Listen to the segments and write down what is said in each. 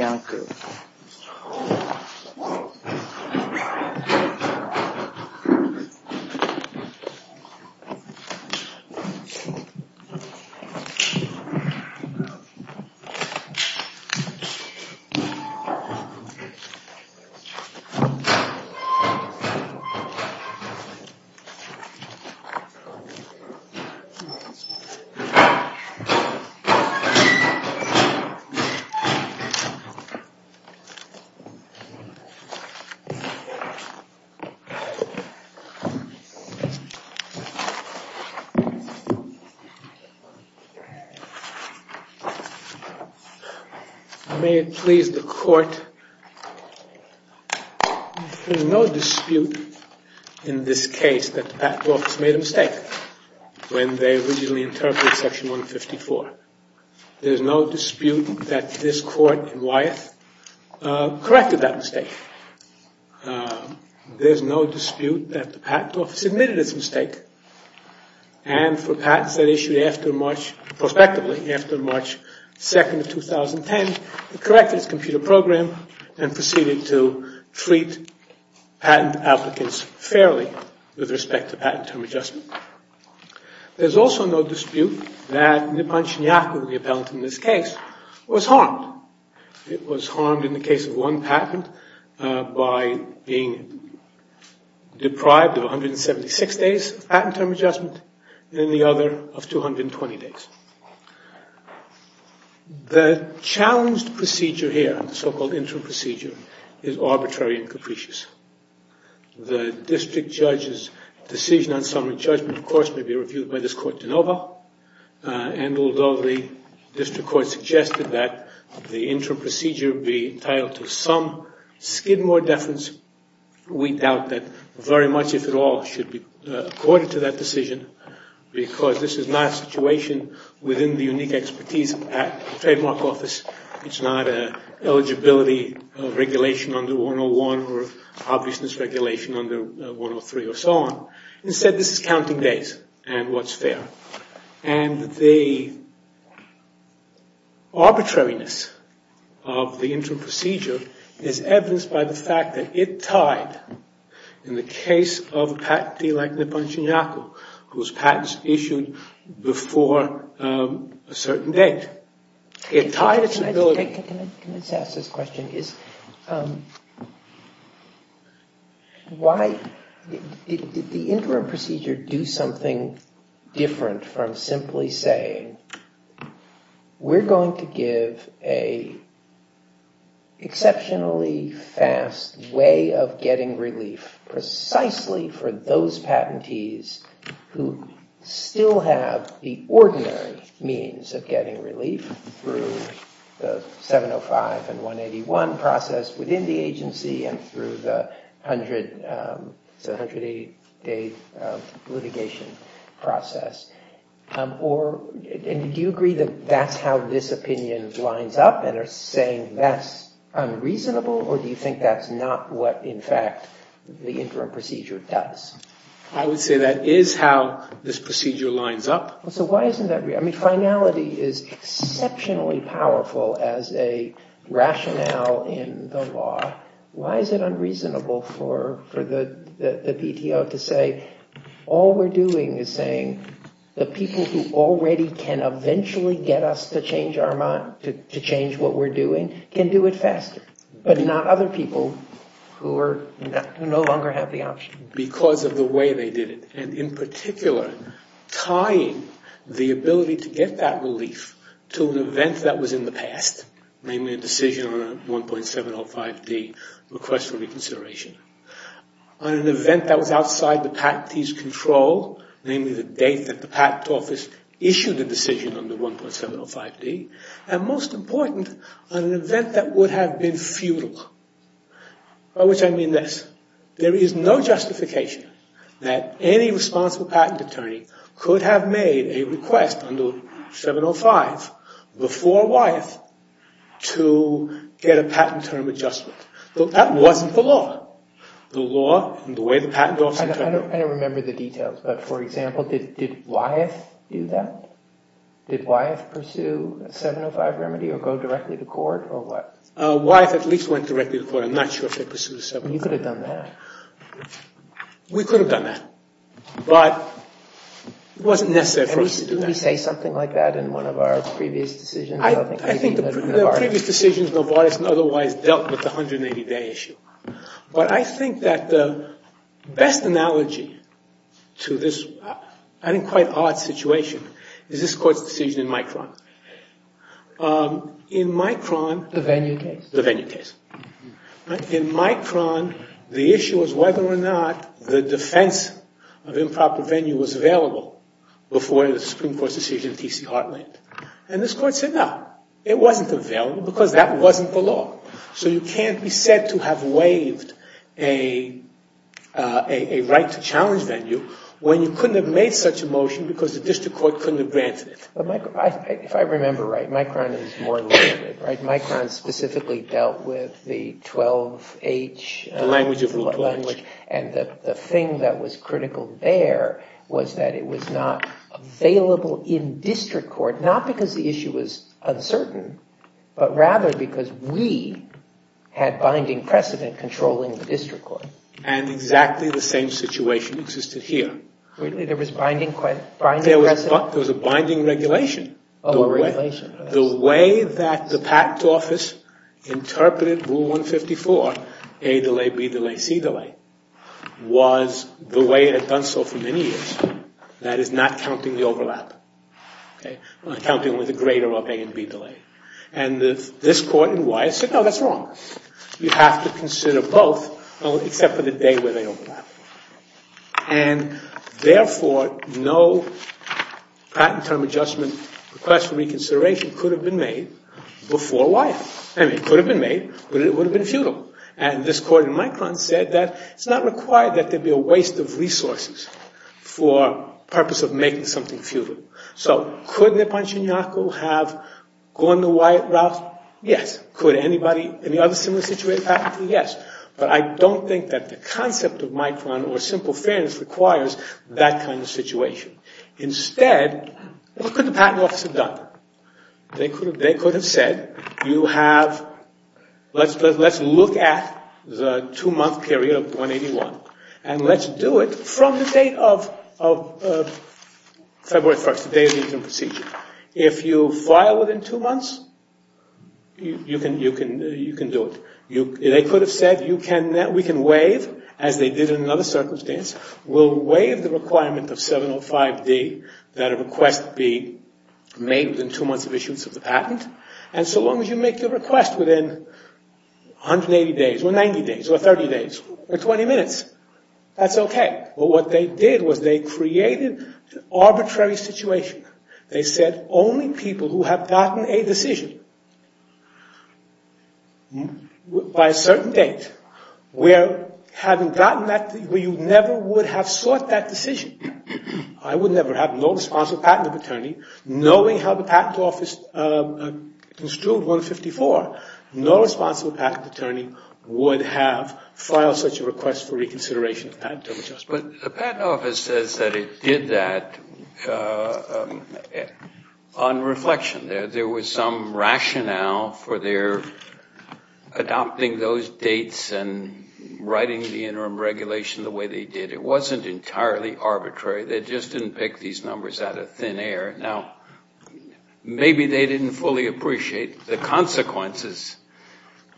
Iancu May it please the Court, there is no dispute in this case that the Pat Brooks made a mistake when they originally interpreted Section 154. There is no dispute that this Court in Wyeth corrected that mistake. There is no dispute that the Patent Office admitted its mistake and for patents that issued prospectively after March 2, 2010, it corrected its computer and proceeded to treat patent applicants fairly with respect to patent term adjustment. There is also no dispute that Nippon Shinyaku, the appellant in this case, was harmed. It was harmed in the case of one patent by being deprived of 176 days of patent term adjustment and the other of 220 days. The challenged procedure here, the so-called interim procedure, is arbitrary and capricious. The district judge's decision on summary judgment, of course, may be reviewed by this Court de novo and although the district court suggested that the interim procedure be entitled to some skid more deference, we doubt that very much, if at all, should be that decision because this is not a situation within the unique expertise of the Trademark Office. It's not an eligibility regulation under 101 or an obviousness regulation under 103 or so on. Instead, this is counting days and what's fair. And the arbitrariness of the interim procedure is evidenced by the fact that it tied, in the case of a patentee like Nippon Shinyaku, whose patents issued before a certain date, it tied its ability... Can I just ask this question? Did the interim procedure do something different from simply saying, we're going to give an exceptionally fast way of getting relief precisely for those patentees who still have the ordinary means of getting relief through the 705 and 181 process within the agency and through the 100-day litigation process? And do you agree that that's how this opinion lines up and are saying that's unreasonable or do you think that's not what, in fact, the interim procedure does? I would say that is how this procedure lines up. So why isn't that... I mean, finality is exceptionally powerful as a rationale in the law. Why is it unreasonable for the PTO to say, all we're doing is saying the people who already can eventually get us to change what we're doing can do it faster, but not other people. Because of the way they did it. And in particular, tying the ability to get that relief to an event that was in the past, namely a decision on a 1.705D request for reconsideration, on an event that was outside the patentee's control, namely the date that the patent office issued the decision on the 1.705D, and most important, on an event that would have been futile. By which I mean this. There is no justification that any responsible patent attorney could have made a request on the 1.705 before Wyeth to get a patent term adjustment. That wasn't the law. The law and the way the patent office... I don't remember the details, but for example, did Wyeth do that? Did Wyeth pursue a 1.705 remedy or go directly to court or what? Wyeth at least went directly to court. I'm not sure if they pursued a 1.705. You could have done that. We could have done that, but it wasn't necessary for us to do that. Did we say something like that in one of our previous decisions? I think the previous decisions, Novartis and otherwise, dealt with the 180-day issue. But I think that the best analogy to this, I think, quite odd situation is this Court's decision in Micron. In Micron... The venue case? The venue case. In Micron, the issue was whether or not the defense of improper venue was available before the Supreme Court's decision in T.C. Heartland. And this Court said no. It wasn't available because that wasn't the law. So you can't be said to have waived a right to challenge venue when you couldn't have made such a motion because the district court couldn't have granted it. If I remember right, Micron is more limited. Micron specifically dealt with the 12H... The language of Rule 12H. And the thing that was critical there was that it was not available in district court, not because the issue was uncertain, but rather because we had binding precedent controlling the district court. And exactly the same situation existed here. Really? There was binding precedent? There was a binding regulation. Oh, a regulation. The way that the PACT office interpreted Rule 154, A delay, B delay, C delay, was the way it had done so for many years. That is, not counting the overlap. Counting with a greater of A and B delay. And this Court in Wye said, no, that's wrong. You have to consider both except for the day where they overlap. And therefore, no patent term adjustment request for reconsideration could have been made before Wye. I mean, it could have been made, but it would have been futile. And this Court in Micron said that it's not required that there be a waste of resources for purpose of making something futile. So could Nipon Shinyaku have gone the Wye route? Yes. Could any other similar situation happen? Yes. But I don't think that the concept of Micron or simple fairness requires that kind of situation. Instead, what could the patent office have done? They could have said, let's look at the two-month period of 181 and let's do it from the date of February 1st, the day of the interim procedure. If you file within two months, you can do it. They could have said, we can waive, as they did in another circumstance. We'll waive the requirement of 705D that a request be made within two months of issuance of the patent. And so long as you make your request within 180 days or 90 days or 30 days or 20 minutes, that's okay. But what they did was they created an arbitrary situation. They said only people who have gotten a decision by a certain date, where you never would have sought that decision, I would never have, no responsible patent attorney, knowing how the patent office construed 154, no responsible patent attorney would have filed such a request for reconsideration. But the patent office says that it did that on reflection. There was some rationale for their adopting those dates and writing the interim regulation the way they did. It wasn't entirely arbitrary. They just didn't pick these numbers out of thin air. Now, maybe they didn't fully appreciate the consequences,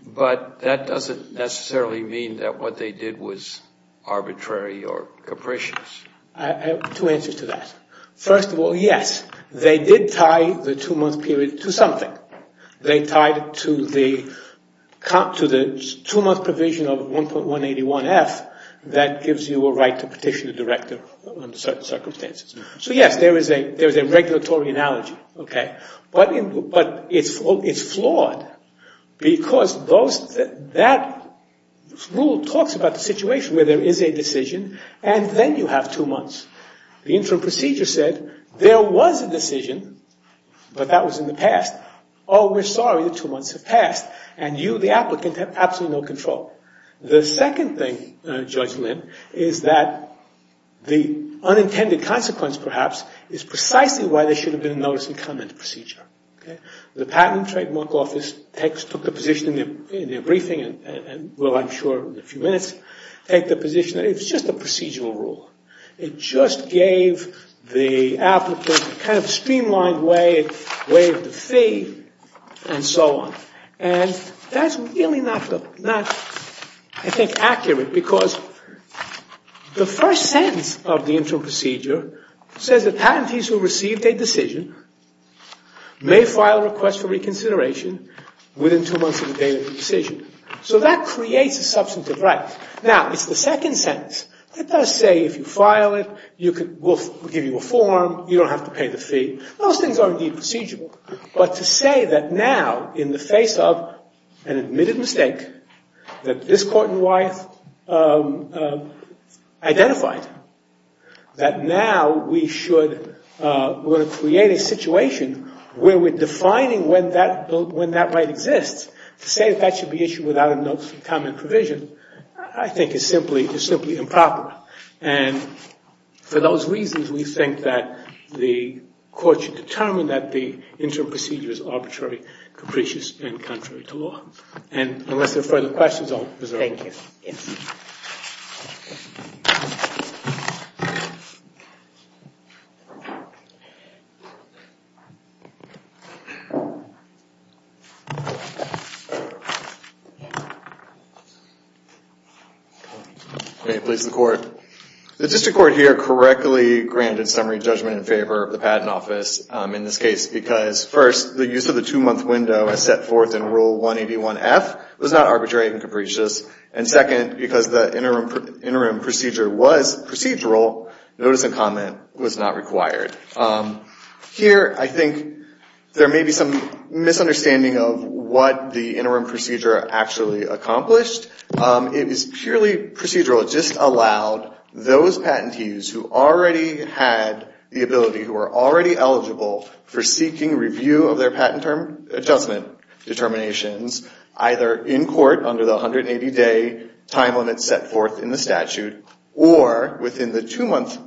but that doesn't necessarily mean that what they did was arbitrary or capricious. I have two answers to that. First of all, yes, they did tie the two-month period to something. They tied it to the two-month provision of 1.181F that gives you a right to petition the director under certain circumstances. So, yes, there is a regulatory analogy, but it's flawed because that rule talks about the situation where there is a decision and then you have two months. The interim procedure said there was a decision, but that was in the past. Oh, we're sorry, the two months have passed, and you, the applicant, have absolutely no control. The second thing, Judge Lynn, is that the unintended consequence, perhaps, is precisely why there should have been a notice and comment procedure. The Patent and Trademark Office took the position in their briefing and will, I'm sure, in a few minutes, take the position that it's just a procedural rule. It just gave the applicant a kind of streamlined way of the fee and so on. And that's really not, I think, accurate because the first sentence of the interim procedure says that patentees who received a decision may file a request for reconsideration within two months of the date of the decision. So that creates a substantive right. Now, it's the second sentence that does say if you file it, we'll give you a form, you don't have to pay the fee. Those things are indeed procedural. But to say that now, in the face of an admitted mistake that this Court in Wyeth identified, that now we should, we're going to create a situation where we're defining when that right exists, to say that that should be issued without a notice and comment provision, I think is simply improper. And for those reasons, we think that the Court should determine that the interim procedure is arbitrary, capricious, and contrary to law. And unless there are further questions, I'll preserve it. Thank you. Yes. May it please the Court. The District Court here correctly granted summary judgment in favor of the Patent Office in this case because, first, the use of the two-month window as set forth in Rule 181F was not arbitrary and capricious. And, second, because the interim procedure was procedural, notice and comment was not required. Here, I think there may be some misunderstanding of what the interim procedure actually accomplished. It was purely procedural. It just allowed those patentees who already had the ability, who were already eligible for seeking review of their patent term adjustment determinations, either in court under the 180-day time limit set forth in the statute or within the two-month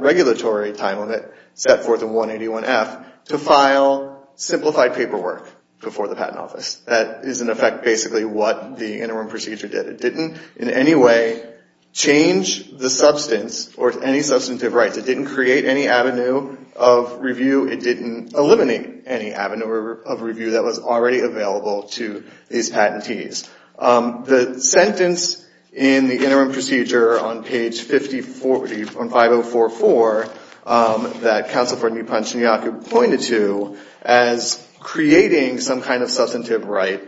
regulatory time limit set forth in 181F, to file simplified paperwork before the Patent Office. That is, in effect, basically what the interim procedure did. It didn't in any way change the substance or any substantive rights. It didn't create any avenue of review. It didn't eliminate any avenue of review that was already available to these patentees. The sentence in the interim procedure on page 5044, that Counsel for a New Punch in Yakut pointed to, as creating some kind of substantive right,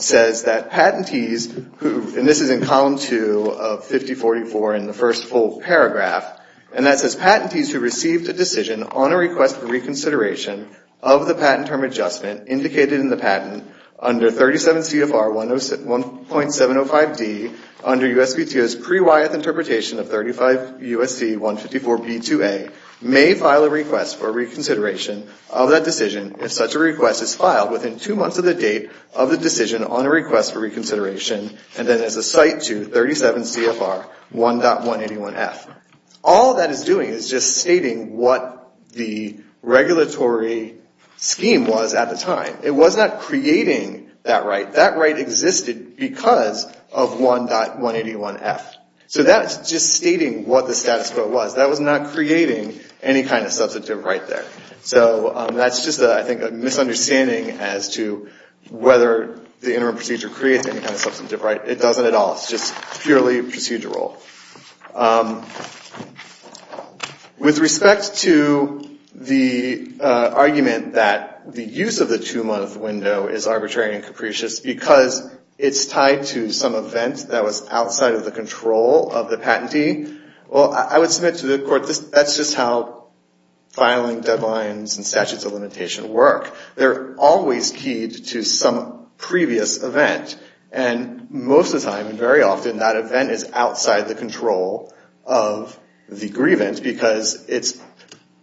says that patentees who, and this is in column two of 5044 in the first full paragraph, and that says, patentees who received a decision on a request for reconsideration of the patent term adjustment indicated in the patent under 37 CFR 1.705D under USPTO's pre-Wyeth interpretation of 35 U.S.C. 154b2a, may file a request for reconsideration of that decision if such a request is filed within two months of the date of the decision on a request for reconsideration, and then as a cite to 37 CFR 1.181F. All that is doing is just stating what the regulatory scheme was at the time. It was not creating that right. That right existed because of 1.181F. So that's just stating what the status quo was. That was not creating any kind of substantive right there. So that's just, I think, a misunderstanding as to whether the interim procedure creates any kind of substantive right. It doesn't at all. It's just purely procedural. With respect to the argument that the use of the two-month window is arbitrary and capricious because it's tied to some event that was outside of the control of the patentee, well, I would submit to the court that's just how filing deadlines and statutes of limitation work. They're always keyed to some previous event. And most of the time, very often, that event is outside the control of the grievance because it's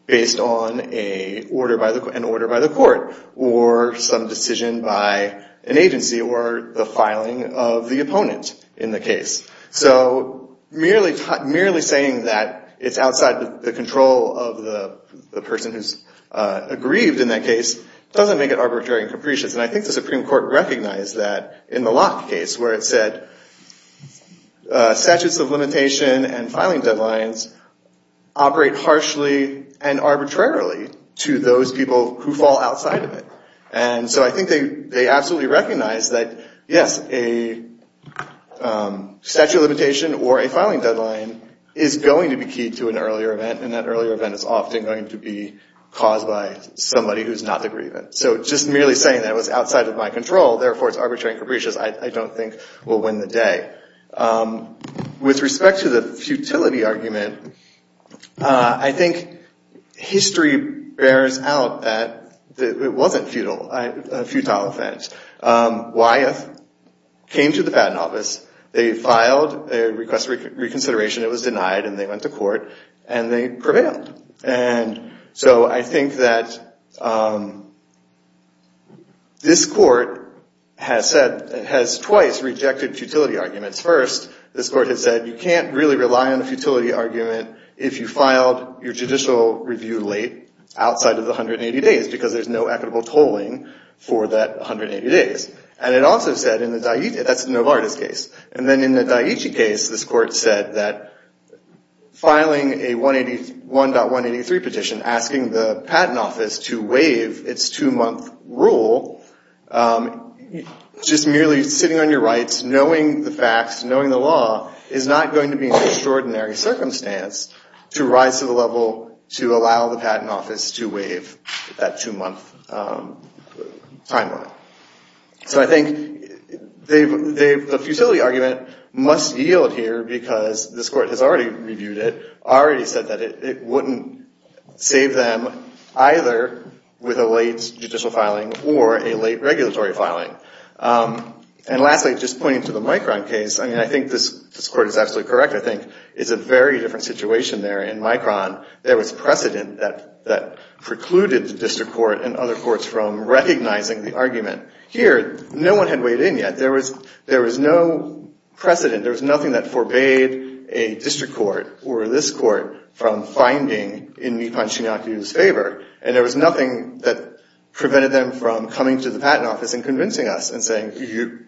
based on an order by the court or some decision by an agency or the filing of the opponent in the case. So merely saying that it's outside the control of the person who's aggrieved in that case doesn't make it arbitrary and capricious. And I think the Supreme Court recognized that in the Locke case where it said statutes of limitation and filing deadlines operate harshly and arbitrarily to those people who fall outside of it. And so I think they absolutely recognize that, yes, a statute of limitation or a filing deadline is going to be keyed to an earlier event. And that earlier event is often going to be caused by somebody who's not the grievant. So just merely saying that it was outside of my control, therefore, it's arbitrary and capricious, I don't think will win the day. With respect to the futility argument, I think history bears out that it wasn't a futile offense. Wyeth came to the Patent Office. They filed a request for reconsideration. It was denied, and they went to court, and they prevailed. And so I think that this court has twice rejected futility arguments. First, this court has said you can't really rely on a futility argument if you filed your judicial review late outside of the 180 days because there's no equitable tolling for that 180 days. And it also said in the Daiichi – that's the Novartis case. And then in the Daiichi case, this court said that filing a 1.183 petition, asking the Patent Office to waive its two-month rule, just merely sitting on your rights, knowing the facts, knowing the law, is not going to be an extraordinary circumstance to rise to the level to allow the Patent Office to waive that two-month timeline. So I think the futility argument must yield here because this court has already reviewed it, already said that it wouldn't save them either with a late judicial filing or a late regulatory filing. And lastly, just pointing to the Micron case, I mean, I think this court is absolutely correct. I think it's a very different situation there. In Micron, there was precedent that precluded the district court and other courts from recognizing the argument. Here, no one had weighed in yet. There was no precedent. There was nothing that forbade a district court or this court from finding in Mikan Shinyaki's favor. And there was nothing that prevented them from coming to the Patent Office and convincing us and saying,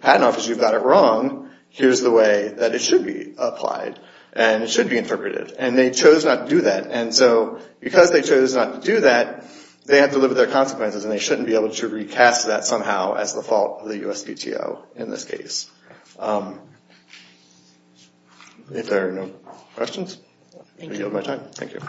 Patent Office, you've got it wrong. Here's the way that it should be applied and it should be interpreted. And they chose not to do that. And so because they chose not to do that, they had to live with their consequences and they shouldn't be able to recast that somehow as the fault of the USPTO in this case. If there are no questions, I yield my time. Thank you.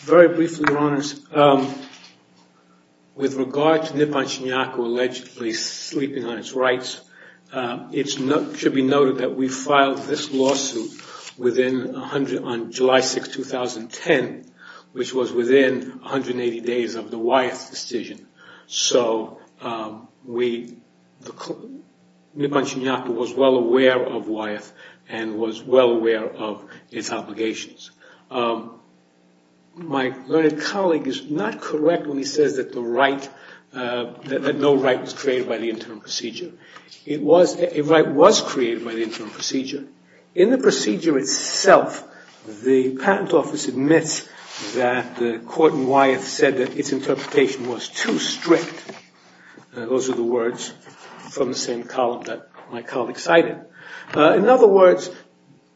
Very briefly, Your Honors, with regard to Nippon Shinyaki allegedly sleeping on its rights, it should be noted that we filed this lawsuit on July 6, 2010, which was within 180 days of the Wyeth decision. So Nippon Shinyaki was well aware of Wyeth and was well aware of its obligations. My learned colleague is not correct when he says that no right was created by the interim procedure. A right was created by the interim procedure. In the procedure itself, the Patent Office admits that the court in Wyeth said that its interpretation was too strict. Those are the words from the same column that my colleague cited. In other words,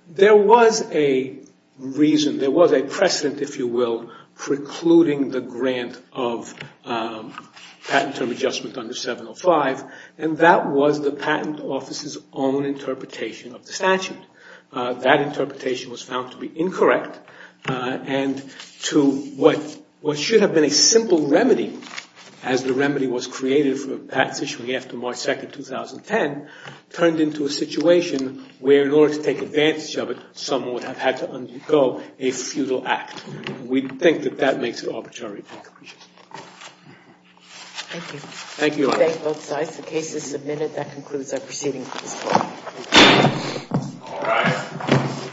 there was a reason, there was a precedent, if you will, precluding the grant of patent term adjustment under 705, and that was the Patent Office's own interpretation of the statute. That interpretation was found to be incorrect and to what should have been a simple remedy, as the remedy was created for patents issuing after March 2, 2010, turned into a situation where in order to take advantage of it, someone would have had to undergo a futile act. We think that that makes it arbitrary. Thank you. Thank you, Your Honors. We thank both sides. The case is submitted. That concludes our proceeding. All rise.